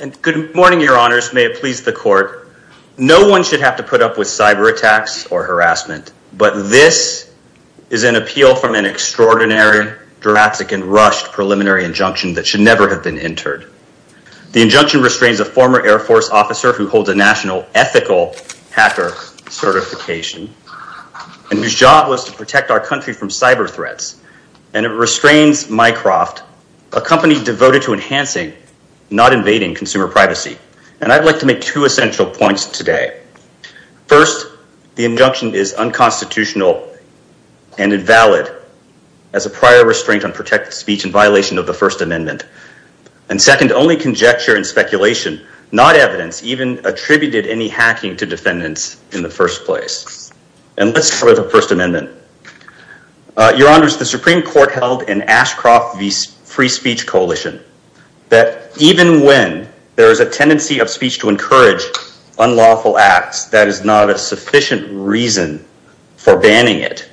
And good morning, your honors. May it please the court. No one should have to put up with cyber attacks or harassment, but this is an appeal from an extraordinary, drastic, and rushed preliminary injunction that should never have been entered. The injunction restrains a former Air Force officer who holds a national ethical hacker certification and whose job was to protect our country from cyber threats. And it restrains Mycroft, a company devoted to enhancing, not invading, consumer privacy. And I'd like to make two essential points today. First, the injunction is unconstitutional and invalid as a prior restraint on protected speech in violation of the First Amendment. And second, only conjecture and speculation, not evidence, even attributed any hacking to defendants in the first place. And let's start with the First Amendment. Your honors, the Supreme Court held in Ashcroft v. Free Speech Coalition that even when there is a tendency of speech to encourage unlawful acts, that is not a sufficient reason for banning it.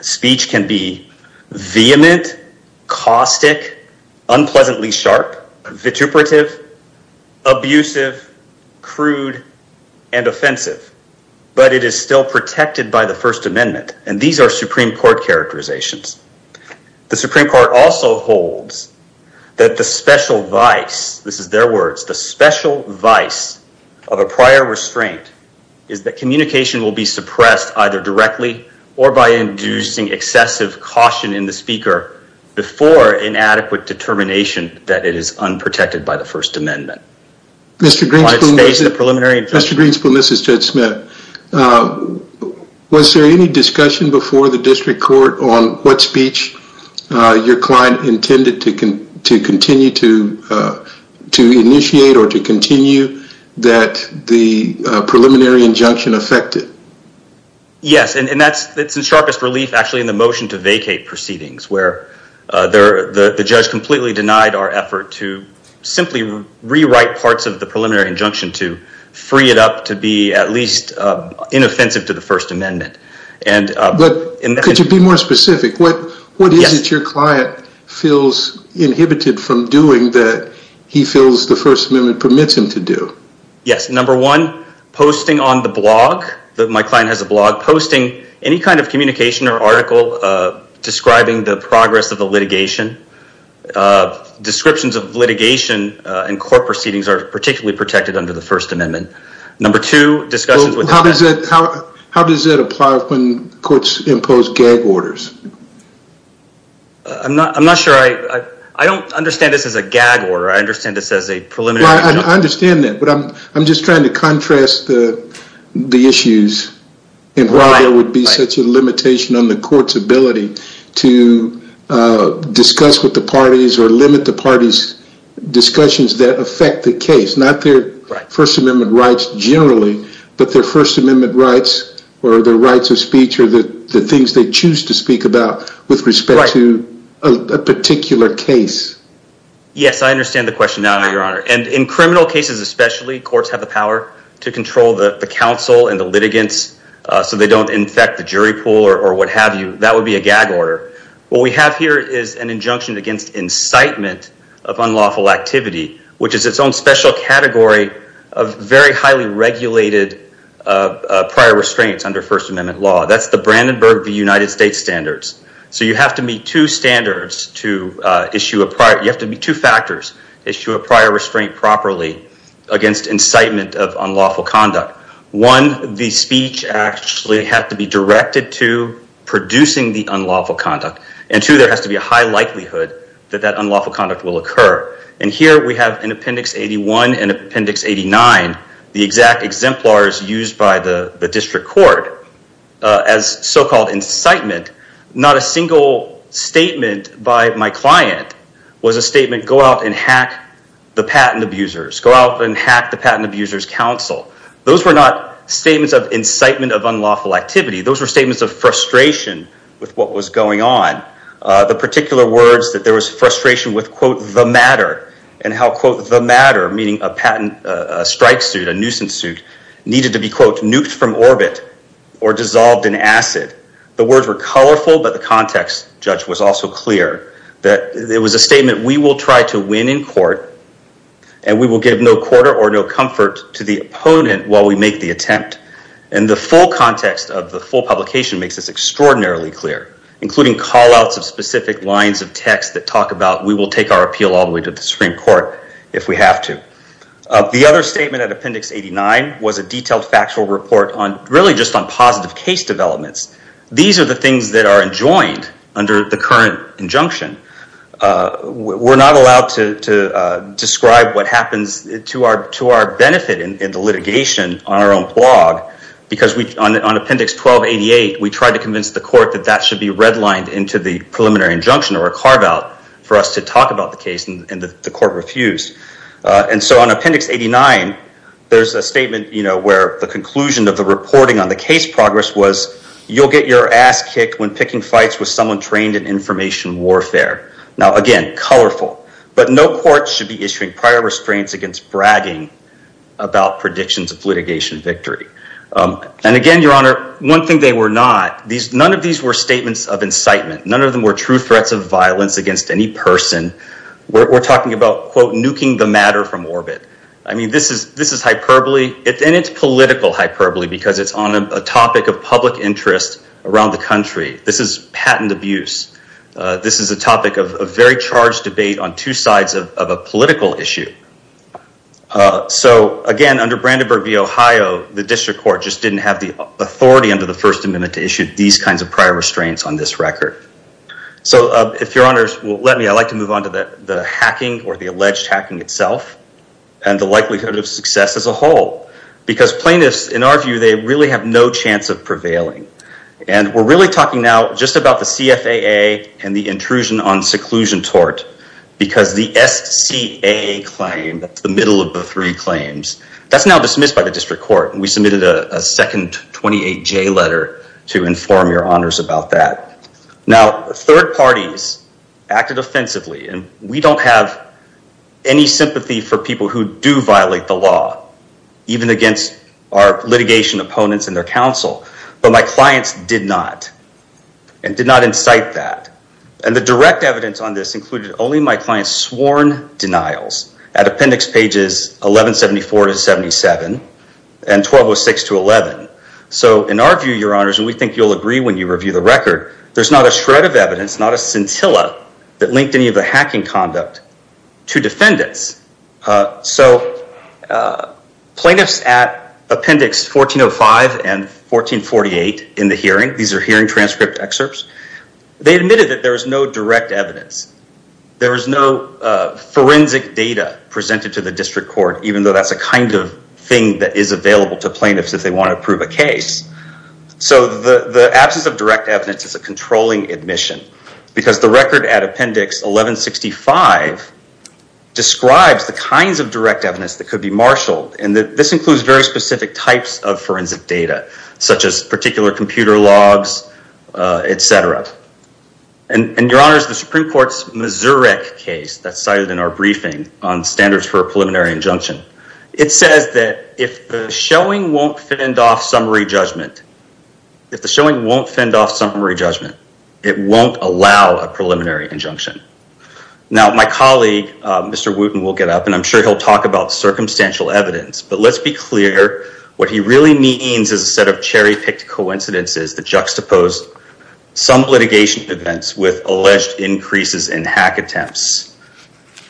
Speech can be vehement, caustic, unpleasantly sharp, vituperative, abusive, crude, and offensive, but it is still protected by the First Amendment. And these are Supreme Court characterizations. The Supreme Court also holds that the special vice, this is their words, the special vice of a prior restraint is that communication will be suppressed either directly or by inducing excessive caution in the speaker before inadequate determination that it is Mr. Greenspan, this is Judge Smith. Was there any discussion before the district court on what speech your client intended to continue to initiate or to continue that the preliminary injunction affected? Yes, and that's the sharpest relief actually in the motion to vacate proceedings where the judge completely denied our effort to simply rewrite parts of the preliminary injunction to free it up to be at least inoffensive to the First Amendment. But could you be more specific? What is it your client feels inhibited from doing that he feels the First Amendment permits him to do? Yes, number one, posting on the blog, my client has a blog, posting any kind of communication or article describing the progress of the litigation. Descriptions of litigation and court proceedings are particularly protected under the First Amendment. Number two, discussions with... How does it apply when courts impose gag orders? I'm not sure, I don't understand this as a gag order, I understand this as a preliminary... I understand that, but I'm just trying to contrast the the issues and why there would be such a limitation on the court's ability to discuss with the parties or limit the party's discussions that affect the case, not their First Amendment rights generally, but their First Amendment rights or their rights of speech or the the things they choose to speak about with respect to a particular case. Yes, I understand the question now, Your Honor, and in criminal cases especially, courts have the power to control the What we have here is an injunction against incitement of unlawful activity, which is its own special category of very highly regulated prior restraints under First Amendment law. That's the Brandenburg v. United States standards. So you have to meet two standards to issue a prior... You have to meet two factors to issue a prior restraint properly against incitement of unlawful conduct, and two, there has to be a high likelihood that that unlawful conduct will occur. And here we have in Appendix 81 and Appendix 89 the exact exemplars used by the district court as so-called incitement. Not a single statement by my client was a statement, go out and hack the patent abusers, go out and hack the patent abusers' counsel. Those were not statements of incitement of unlawful activity. Those were statements of frustration with what was going on. The particular words that there was frustration with, quote, the matter, and how, quote, the matter, meaning a patent strike suit, a nuisance suit, needed to be, quote, nuked from orbit or dissolved in acid. The words were colorful, but the context, Judge, was also clear that it was a statement we will try to win in court and we will give no quarter or no comfort to the opponent while we make the attempt. And the full context of the full publication makes this extraordinarily clear, including callouts of specific lines of text that talk about we will take our appeal all the way to the Supreme Court if we have to. The other statement at Appendix 89 was a detailed factual report on really just on positive case developments. These are the things that are enjoined under the current injunction. We are not allowed to describe what happens to our benefit in the litigation on our own blog because on Appendix 1288, we tried to convince the court that that should be redlined into the preliminary injunction or a carve-out for us to talk about the case and the court refused. And so on Appendix 89, there is a statement where the conclusion of the reporting on the case progress was you will get your ass kicked when picking fights with someone trained in information warfare. Now again, colorful, but no court should be issuing prior restraints against bragging about predictions of litigation victory. And again, Your Honor, one thing they were not, none of these were statements of incitement. None of them were true threats of violence against any person. We're talking about, quote, nuking the matter from orbit. I mean, this is hyperbole and it's political hyperbole because it's on a topic of public interest around the country. This is patent abuse. This is a topic of a very charged debate on two sides of a political issue. So again, under Brandenburg v. Ohio, the district court just didn't have the authority under the First Amendment to issue these kinds of prior restraints on this record. So if Your Honors will let me, I'd like to move on to the hacking or the alleged hacking itself and the likelihood of success as a whole because plaintiffs, in our view, they really have no chance of prevailing. And we're really talking now just about the CFAA and the intrusion on seclusion tort because the SCAA claim, that's the middle of the three claims, that's now dismissed by the district court. And we submitted a second 28J letter to inform Your Honors about that. Now, third parties acted offensively and we don't have any sympathy for people who do violate the CFAA. Our clients did not and did not incite that. And the direct evidence on this included only my clients sworn denials at appendix pages 1174 to 77 and 1206 to 11. So in our view, Your Honors, and we think you'll agree when you review the record, there's not a shred of evidence, not a scintilla that linked any of the hacking conduct to defendants. So plaintiffs at appendix 1405 and 1448 in the hearing, these are hearing transcript excerpts, they admitted that there was no direct evidence. There was no forensic data presented to the district court, even though that's a kind of thing that is available to plaintiffs if they want to prove a case. So the absence of direct evidence is a controlling admission because the record at appendix 1165 describes the kinds of such as particular computer logs, etc. And Your Honors, the Supreme Court's Missouri case that's cited in our briefing on standards for a preliminary injunction, it says that if the showing won't fend off summary judgment, if the showing won't fend off summary judgment, it won't allow a preliminary injunction. Now, my colleague, Mr. Wooten will get up and I'm sure he'll talk about circumstantial evidence, but let's be clear, what he really means is a set of cherry-picked coincidences that juxtapose some litigation events with alleged increases in hack attempts.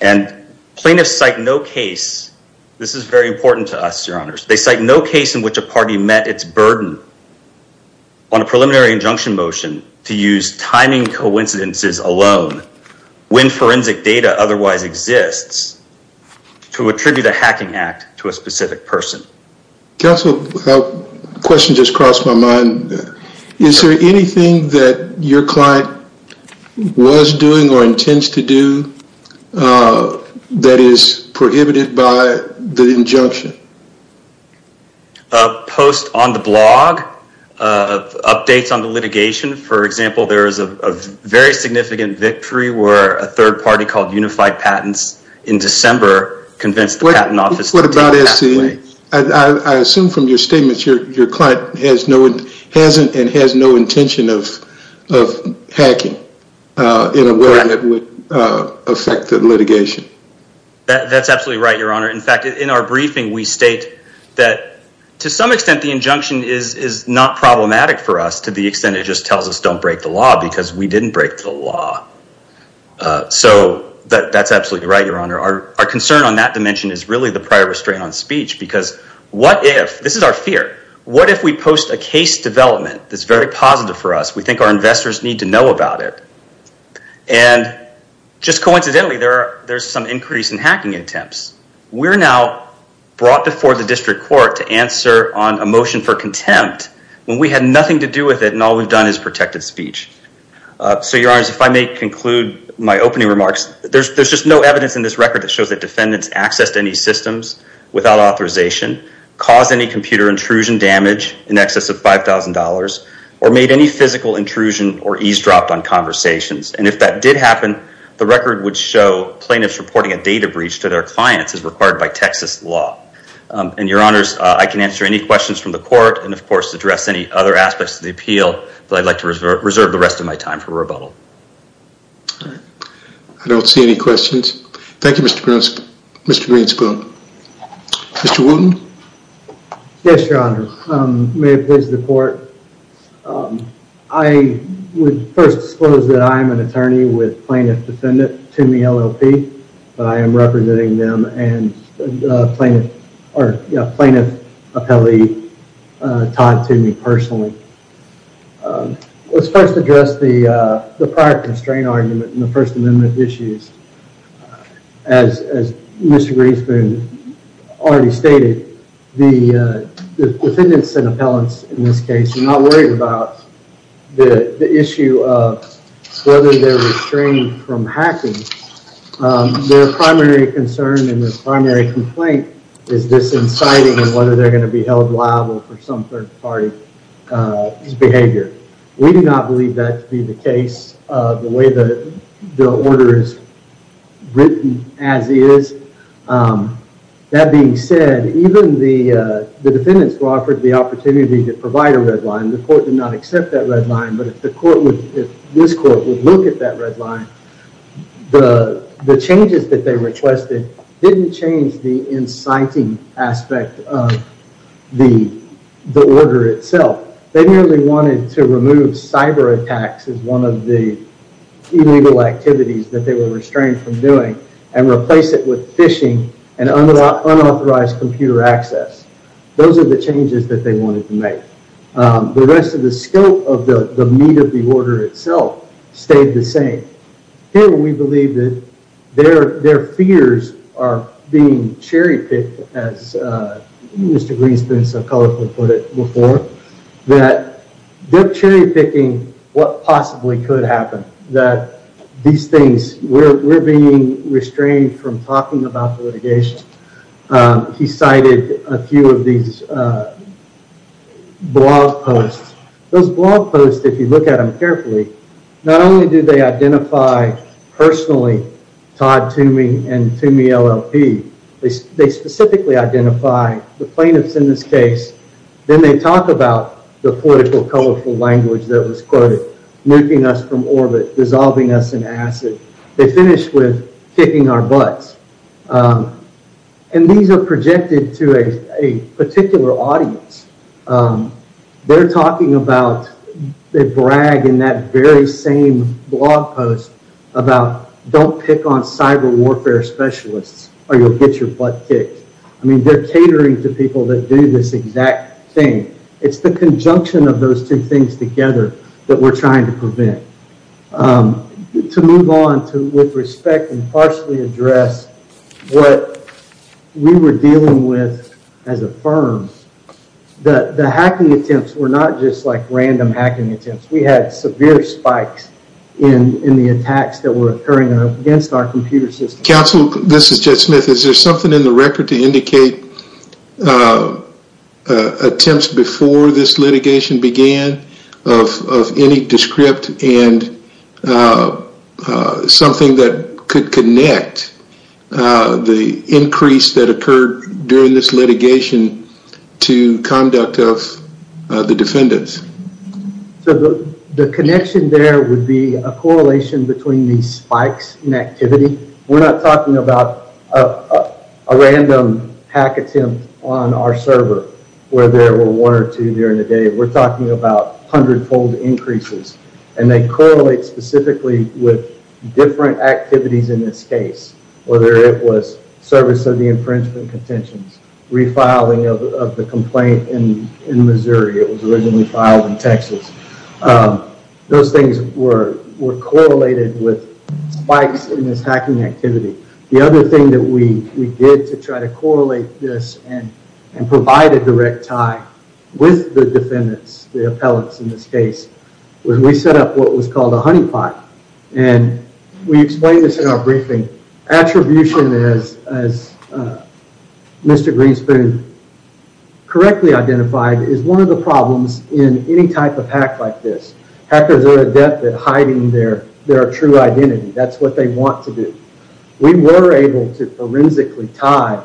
And plaintiffs cite no case, this is very important to us, Your Honors, they cite no case in which a party met its burden on a preliminary injunction motion to use timing coincidences alone when forensic data otherwise exists to attribute a hacking act to a specific person. Counsel, a question just crossed my mind. Is there anything that your client was doing or intends to do that is prohibited by the injunction? A post on the blog, updates on the litigation, for example, there is a very significant victory where a third party called Unified Patents in December convinced the Patent Office. What about SCA? I assume from your statements your client has no, hasn't, and has no intention of hacking in a way that would affect the litigation. That's absolutely right, Your Honor. In fact, in our briefing we state that to some extent the injunction is not problematic for us to the extent it just tells us don't break the law because we didn't break the law. So that's absolutely right, Your Honor. Our concern on that dimension is really the prior restraint on speech because what if, this is our fear, what if we post a case development that's very positive for us, we think our investors need to know about it, and just coincidentally there's some increase in hacking attempts. We're now brought before the District Court to answer on a motion for contempt when we had nothing to do with it and all we've done is protected speech. So, Your Honors, if I may conclude my opening remarks, there's just no evidence in this record that shows that defendants accessed any systems without authorization, caused any computer intrusion damage in excess of $5,000, or made any physical intrusion or eavesdropped on conversations. And if that did happen, the record would show plaintiffs reporting a data breach to their clients as required by Texas law. And, Your Honors, I can answer any questions from the court and, of course, address any other aspects of the appeal, but I'd like to reserve the rest of my time for rebuttal. I don't see any questions. Thank you, Mr. Greenspoon. Mr. Wooten. Yes, Your Honor. May it please the Court. I would first disclose that I am an attorney with plaintiff defendant Toomey LLP, but I am representing them and plaintiff or plaintiff appellee Todd Toomey personally. Let's first address the prior constraint argument in the First Amendment issues. As Mr. Greenspoon already stated, the defendants and appellants in this case are not worried about the issue of whether they're restrained from hacking. Their primary concern and their primary complaint is this inciting and whether they're going to be held liable for some third-party behavior. We do not believe that to be the case. The way the order is written as is, that being said, even the defendants who offered the opportunity to provide a red line, the court did not accept that red line, but if this court would look at that red line, the changes that they requested didn't change the inciting aspect of the order itself. They merely wanted to remove cyber attacks as one of the illegal activities that they were restrained from doing and replace it with phishing and unauthorized computer access. Those are the changes that they wanted to make. The rest of the scope of the meat of the order itself stayed the same. Here we believe that their fears are being cherry-picked as Mr. Greenspoon so colorfully put before that they're cherry-picking what possibly could happen, that these things, we're being restrained from talking about the litigation. He cited a few of these blog posts. Those blog posts, if you look at them carefully, not only do they identify personally Todd Toomey and Toomey LLP, they specifically identify the plaintiffs in this case. Then they talk about the political, colorful language that was quoted, nuking us from orbit, dissolving us in acid. They finish with kicking our butts. These are projected to a particular audience. They're talking about, they brag in that very same blog post about don't pick on cyber warfare specialists or you'll get your butt kicked. They're catering to people that do this exact thing. It's the conjunction of those two things together that we're trying to prevent. To move on to with respect and partially address what we were dealing with as a firm, that the hacking attempts were not just like random hacking attempts. We had severe spikes in the attacks that were occurring against our computer system. Counsel, this is Jed Smith. Is there something in the record to indicate attempts before this litigation began of any descript and something that could connect the increase that occurred during this litigation to conduct of the defendants? So the connection there would be a correlation between these spikes in activity. We're not talking about a random hack attempt on our server where there were one or two during the day. We're talking about hundred-fold increases. They correlate specifically with different activities in this case, whether it was service of the infringement contentions, refiling of the taxes. Those things were correlated with spikes in this hacking activity. The other thing that we did to try to correlate this and provide a direct tie with the defendants, the appellants in this case, was we set up what was called a honeypot. And we explained this in our briefing. Attribution as Mr. Greenspoon correctly identified is one of the problems in any type of hack like this. Hackers are adept at hiding their true identity. That's what they want to do. We were able to forensically tie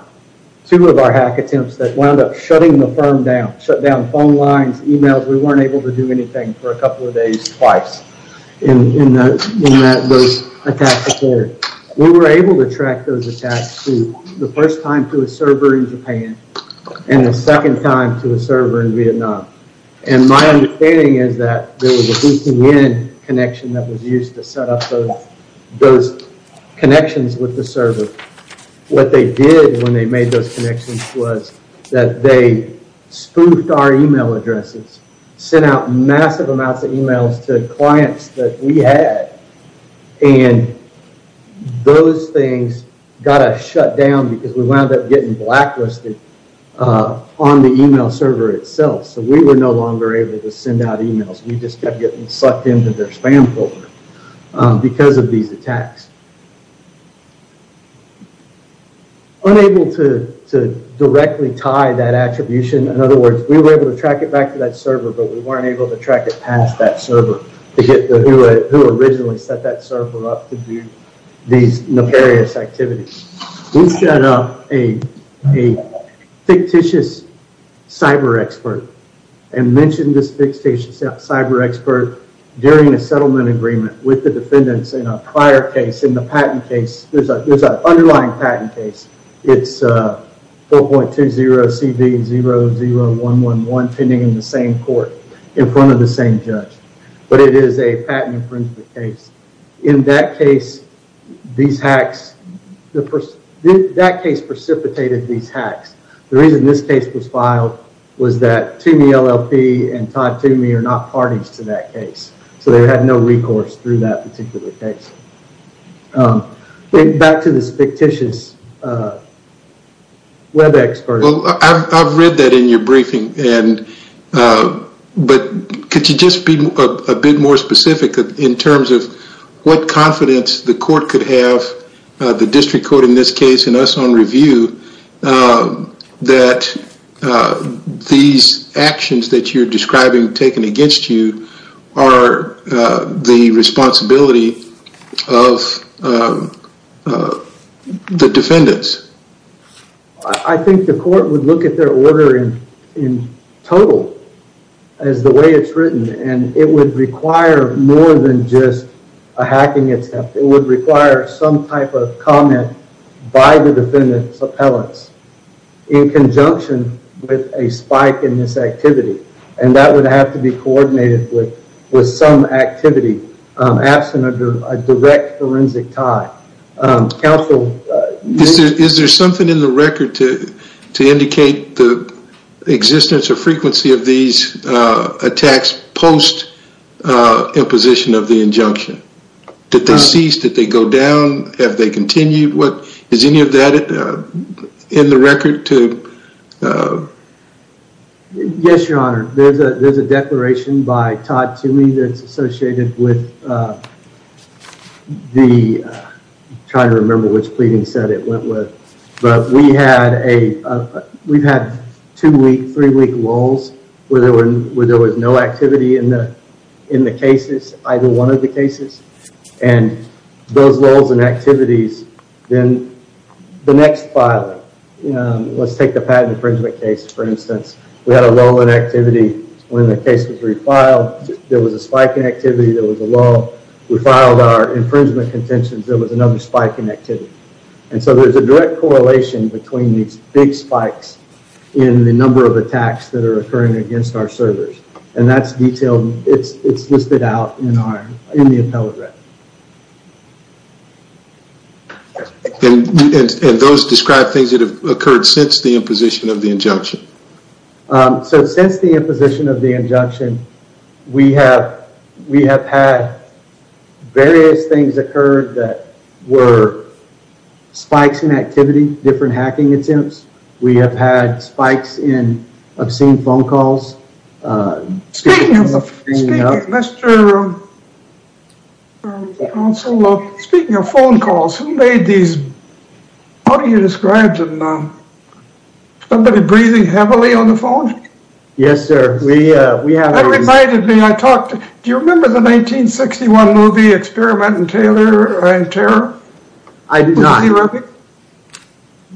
two of our hack attempts that wound up shutting the firm down, shut down phone lines, emails. We weren't able to do anything for a couple of days twice in those attacks occurred. We were able to track those attacks through the first time to a server in Japan and the second time to a server in Vietnam. And my understanding is that there was a hooking in connection that was used to set up those connections with the server. What they did when they made those connections was that they spoofed our email addresses, sent out massive amounts of emails to clients that we had. And those things got us shut down because we wound up getting blacklisted on the email server itself. So we were no longer able to send out emails. We just kept getting sucked into their spam folder because of these attacks. Unable to directly tie that attribution, in other words, we were able to track it back to that server, but we weren't able to track it past that server to get who originally set that server up to do these nefarious activities. We set up a fictitious cyber expert and mentioned this fictitious cyber expert during a settlement agreement with the defendants in a prior case, in the patent case. There's an underlying patent case. It's 4.20CB00111 pending in the same court in front of the same judge, but it is a patent infringement case. In that case, that case precipitated these hacks. The reason this case was filed was that Toomey LLP and Todd Toomey are not parties to that case. So they had no recourse through that particular case. Back to this fictitious web expert. Well, I've read that in your briefing, but could you just be a bit more specific in terms of what confidence the court could have, the district court in this case and us on review, that these actions that you're describing taken against you are the responsibility of the defendants? I think the court would look at their order in total as the way it's written, and it would require more than just a hacking attempt. It would require some type of comment by the defendant's appellants in conjunction with a spike in this activity, and that would have to be coordinated with some activity absent of a direct forensic tie. Counsel... Is there something in the record to indicate the existence or frequency of these attacks post imposition of the injunction? Did they cease? Did they go down? Have they continued? Is any of that in the record to... Yes, your honor. There's a declaration by Todd Toomey that's associated with the... I'm trying to remember which pleading set it went with, but we've had two-week, three-week lulls where there was no activity in the cases, either one of the cases. And those lulls and activities, then the next filing, let's take the patent infringement case, for instance. We had a lull in activity when the case was refiled. There was a spike in activity, there was a lull. We filed our infringement contentions, there was another spike in activity. And so there's a direct correlation between these big spikes in the number of attacks that are occurring against our servers. And that's detailed, it's listed out in the appellate record. And those describe things that have occurred since the imposition of the injunction? So since the imposition of the injunction, we have had various things occur that were spikes in activity, different hacking attempts. We have had spikes in obscene phone calls. Speaking of phone calls, who made these, how do you describe them? Somebody breathing heavily on the phone? Yes, sir. Do you remember the 1961 movie Experiment and Terror? I do not.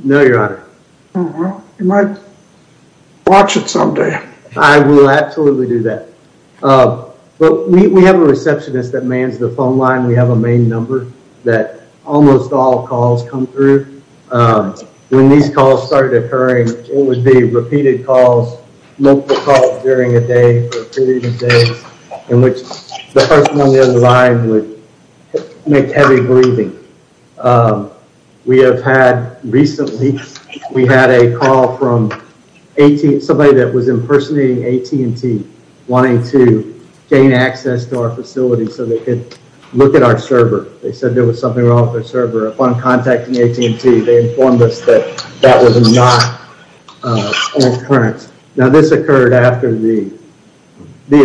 No, your honor. You might watch it someday. I will absolutely do that. But we have a receptionist that mans the phone line. We have a main number that almost all calls come through. When these calls started occurring, it would be repeated calls, multiple calls during a day for a period of days, in which the person on the other line would make heavy breathing. We have had recently, we had a call from somebody that was impersonating AT&T, wanting to gain access to our facility so they could look at our server. They said there was something wrong with their server. Upon contacting AT&T, they informed us that that was not an occurrence. Now, this occurred after the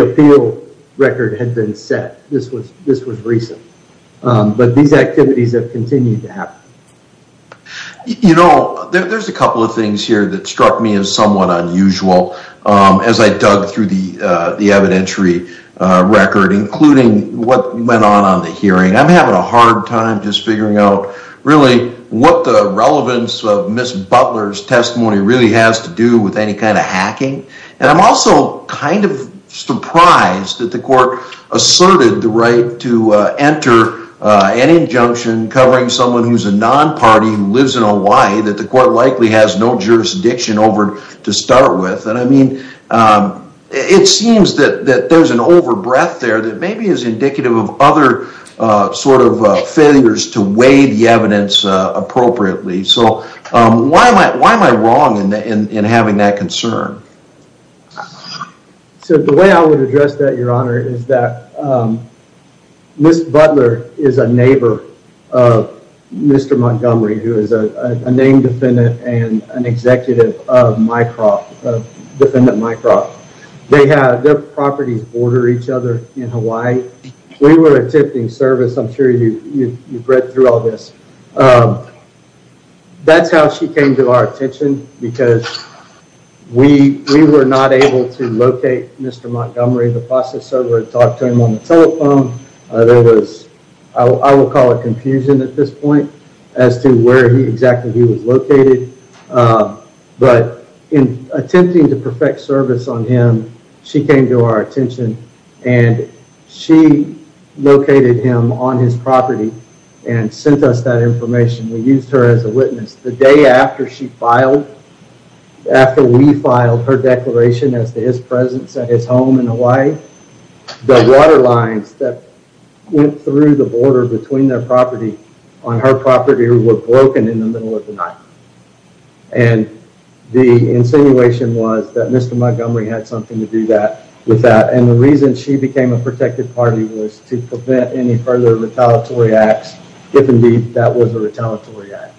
appeal record had been set. This was recent. But these activities have continued to happen. You know, there's a couple of things here that struck me as somewhat unusual as I dug through the evidentiary record, including what went on on the hearing. I'm having a hard time just figuring out really what the relevance of Butler's testimony really has to do with any kind of hacking. And I'm also kind of surprised that the court asserted the right to enter an injunction covering someone who's a non-party who lives in Hawaii that the court likely has no jurisdiction over to start with. And I mean, it seems that there's an overbreath there that maybe is indicative of other sort of failures to weigh the evidence appropriately. So why am I wrong in having that concern? So the way I would address that, Your Honor, is that Ms. Butler is a neighbor of Mr. Montgomery, who is a named defendant and an executive of MyCrop, defendant MyCrop. Their properties border each other in Hawaii. We were attempting service. I'm sure you've read through all this. That's how she came to our attention, because we were not able to locate Mr. Montgomery. The process server had talked to him on the telephone. There was, I will call it confusion at this point as to where exactly he was located. But in attempting to perfect service on him, she came to our attention, and she located him on his property and sent us that information. We used her as a witness. The day after she filed, after we filed her declaration as to his presence at his home in Hawaii, the water lines that went through the border between their property on her property were broken in the middle of the night. And the insinuation was that Mr. Montgomery had something to do with that. And the reason she became a protected party was to prevent any further retaliatory acts, if indeed that was a retaliatory act.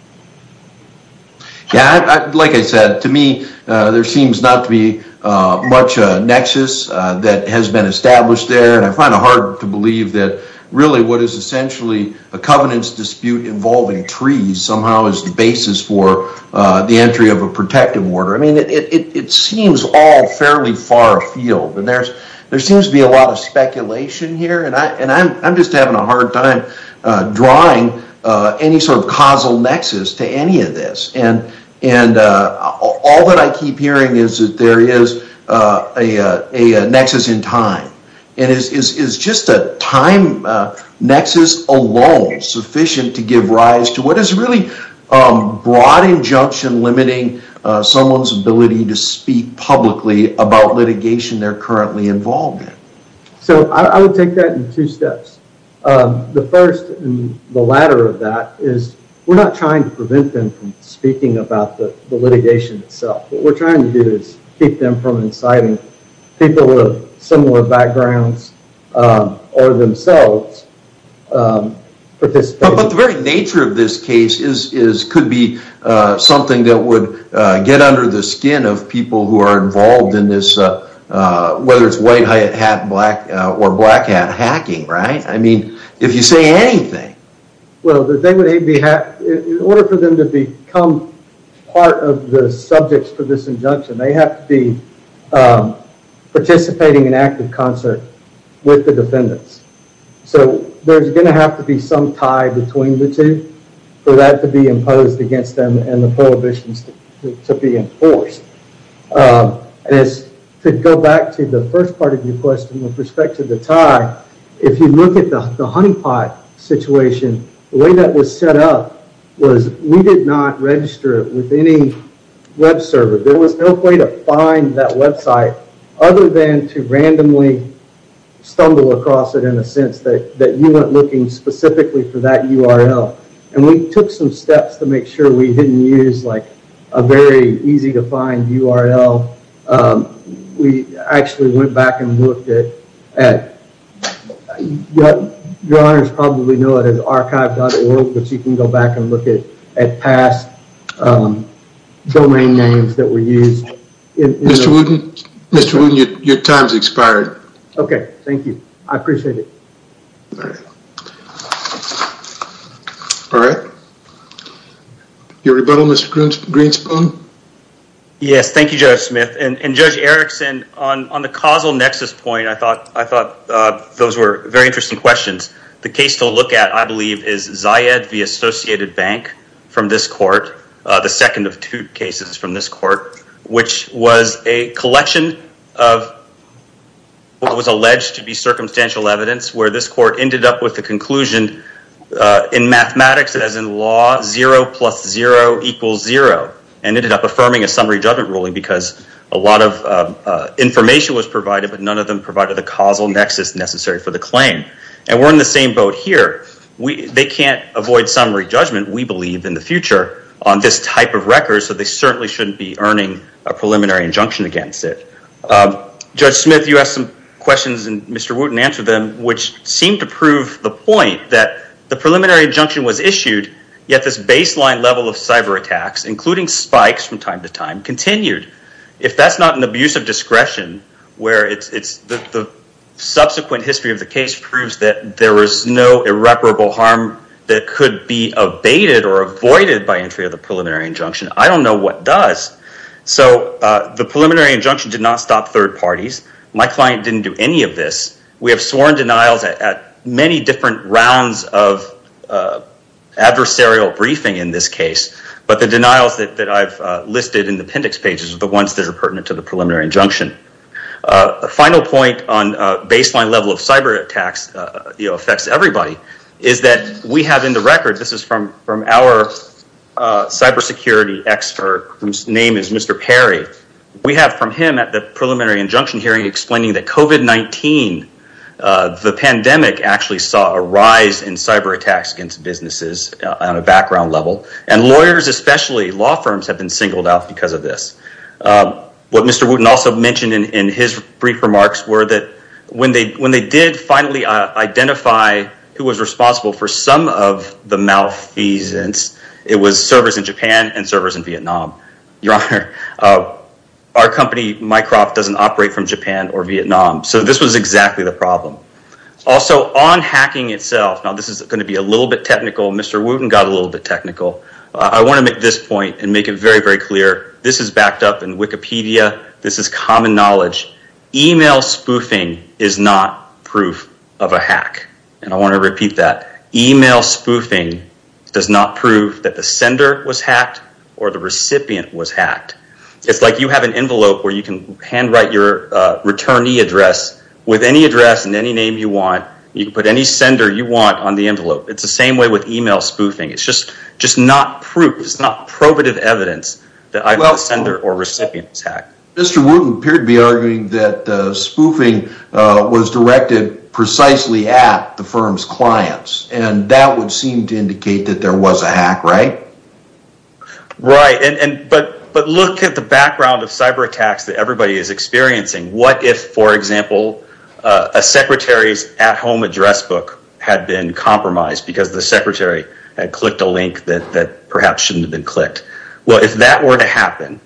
Yeah, like I said, to me, there seems not to be much nexus that has been established there. And I find it hard to believe that really what is essentially a covenants dispute involving trees somehow is the basis for the entry of a protective order. I mean, it seems all fairly far afield. And there seems to be a lot of speculation here. And I'm just having a hard time drawing any sort of causal nexus to any of this. And all that I keep hearing is that there is a nexus in time. And is just a time nexus alone sufficient to give rise to what is really broad injunction limiting someone's ability to speak publicly about litigation they're currently involved in? So I would take that in two steps. The first and the latter of that is we're not trying to prevent them from speaking about the litigation itself. What we're trying to do is keep them from inciting people with similar backgrounds or themselves. But the very nature of this case could be something that would get under the skin of people who are involved in this, whether it's white hat or black hat hacking, right? I mean, if you say anything. Well, in order for them to become part of the subjects for this injunction, they have to be participating in active concert with the defendants. So there's going to have to be some tie between the two for that to be imposed against them and the prohibitions to be enforced. And to go back to the first part of your question with respect to the tie, if you look at the honeypot situation, the way that was set up was we did not register it with any web server. There was no way to find that website other than to randomly stumble across it in a sense that you weren't looking specifically for that URL. And we took some steps to make sure we didn't use like a very easy to find URL. We actually went back and looked at, your honors probably know it as archive.org, but you can go back and look at past domain names that were used. Mr. Wooten, your time's expired. Okay, thank you. I appreciate it. All right. Your rebuttal, Mr. Greenspoon? Yes, thank you, Judge Smith. And Judge Erickson, on the causal nexus point, I thought those were very interesting questions. The case to look at, I believe, is Zayed v. Associated Bank from this court, the second of two cases from this court, which was a collection of what was alleged to be circumstantial evidence where this court ended up with the conclusion in mathematics as in law, zero plus zero equals zero, and ended up affirming a summary judgment ruling because a lot of information was provided, but none of them provided the causal nexus necessary for the claim. And we're in the same boat here. They can't avoid summary judgment, we believe, in the future on this type of record, so they certainly shouldn't be earning a preliminary injunction against it. Judge Smith, you asked some questions and Mr. Wooten answered them, which seemed to prove the point that the preliminary injunction was issued, yet this baseline level of cyber attacks, including spikes from time to time, continued. If that's not an abuse of discretion where the subsequent history of the case proves that there was no irreparable harm that could be abated or avoided by entry of the preliminary injunction, I don't know what does. So the preliminary injunction did not stop third parties. My client didn't do any of this. We have sworn denials at many different rounds of adversarial briefing in this case, but the denials that I've listed in the appendix pages are the ones that are pertinent to the preliminary injunction. A final point on baseline level of cyber attacks affects everybody, is that we have in the record, this is from our cybersecurity expert, whose name is Mr. Perry. We have from him at the preliminary injunction explaining that COVID-19, the pandemic actually saw a rise in cyber attacks against businesses on a background level, and lawyers especially, law firms have been singled out because of this. What Mr. Wooten also mentioned in his brief remarks were that when they did finally identify who was responsible for some of the malfeasance, it was servers in Japan and servers in Vietnam. Your honor, our company, Mycroft, doesn't operate from Japan or Vietnam. So this was exactly the problem. Also on hacking itself, now this is going to be a little bit technical. Mr. Wooten got a little bit technical. I want to make this point and make it very, very clear. This is backed up in Wikipedia. This is common knowledge. Email spoofing is not proof of a hack, and I want to Mr. Wooten appeared to be arguing that spoofing was directed precisely at the firm's clients, and that would seem to indicate that there was a hack, right? Right, but look at the background of cyber attacks that everybody is experiencing. What if, for example, a secretary's at-home address book had been compromised because the secretary had clicked a link that perhaps shouldn't have been clicked? Well, if that were to happen,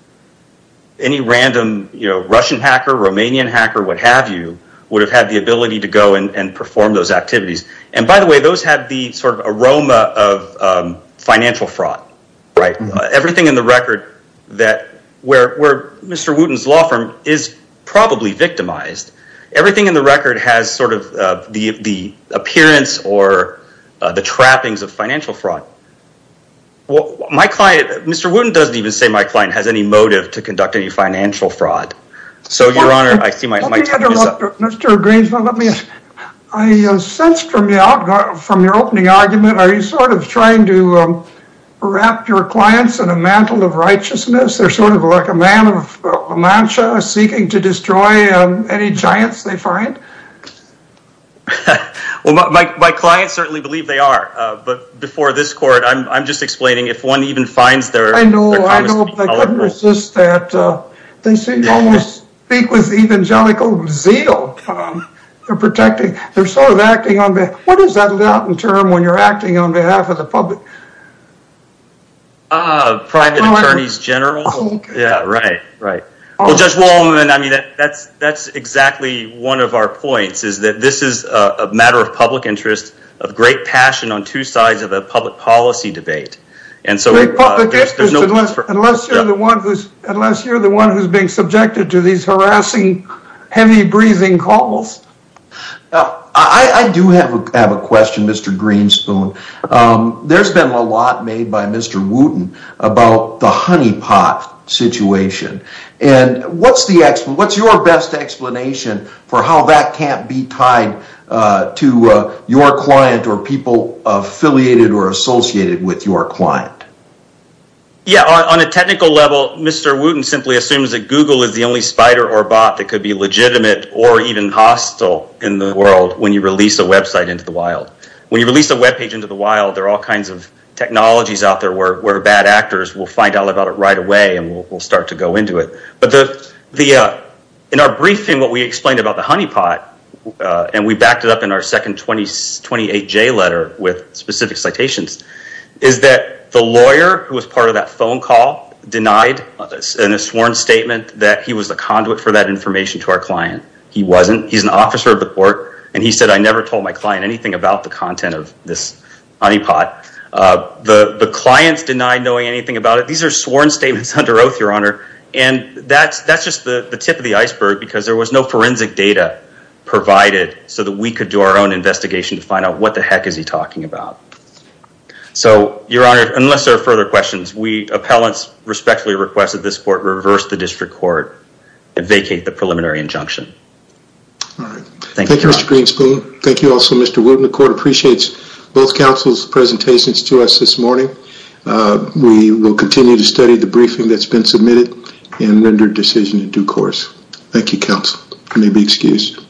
any random Russian hacker, Romanian hacker, what have you, would have had the ability to go and Everything in the record where Mr. Wooten's law firm is probably victimized, everything in the record has sort of the appearance or the trappings of financial fraud. Mr. Wooten doesn't even say my client has any motive to conduct any financial fraud. So your honor, I see my time is up. Mr. Greenspan, I sensed from your opening argument, are you sort of trying to wrap your clients in a mantle of righteousness? They're sort of like a man of mansha, seeking to destroy any giants they find? Well, my clients certainly believe they are, but before this court, I'm just explaining if one even I know, I know, but I couldn't resist that. They seem to almost speak with evangelical zeal. They're protecting, they're sort of acting on behalf, what is that Latin term when you're acting on behalf of the public? Private attorneys general. Yeah, right, right. Well, Judge Wallman, I mean, that's exactly one of our points, is that this is a matter of public interest, of great passion on two sides of a public policy debate. Great public interest, unless you're the one who's being subjected to these harassing, heavy breathing calls? I do have a question, Mr. Greenspan. There's been a lot made by Mr. Wooten about the honeypot situation, and what's your best explanation for how that can't be tied to your client or people affiliated or associated with your client? Yeah, on a technical level, Mr. Wooten simply assumes that Google is the only spider or bot that could be legitimate or even hostile in the world when you release a website into the wild. When you release a web page into the wild, there are all kinds of technologies out there where bad actors will find out about it right away and will start to go into it. But in our briefing, what we explained about the honeypot, and we backed it up in our second 28J letter with specific citations, is that the lawyer who was part of that phone call denied in a sworn statement that he was the conduit for that information to our client. He wasn't. He's an officer of the court, and he said, I never told my client anything about the content of this honeypot. The clients denied knowing anything about it. These are sworn statements under oath, Your Honor, and that's just the tip of the iceberg because there was no investigation to find out what the heck is he talking about. Your Honor, unless there are further questions, we appellants respectfully request that this court reverse the district court and vacate the preliminary injunction. All right. Thank you, Mr. Greenspoon. Thank you also, Mr. Wooten. The court appreciates both counsel's presentations to us this morning. We will continue to study the briefing that's been submitted and render decision in due course. Thank you, counsel. I may be excused.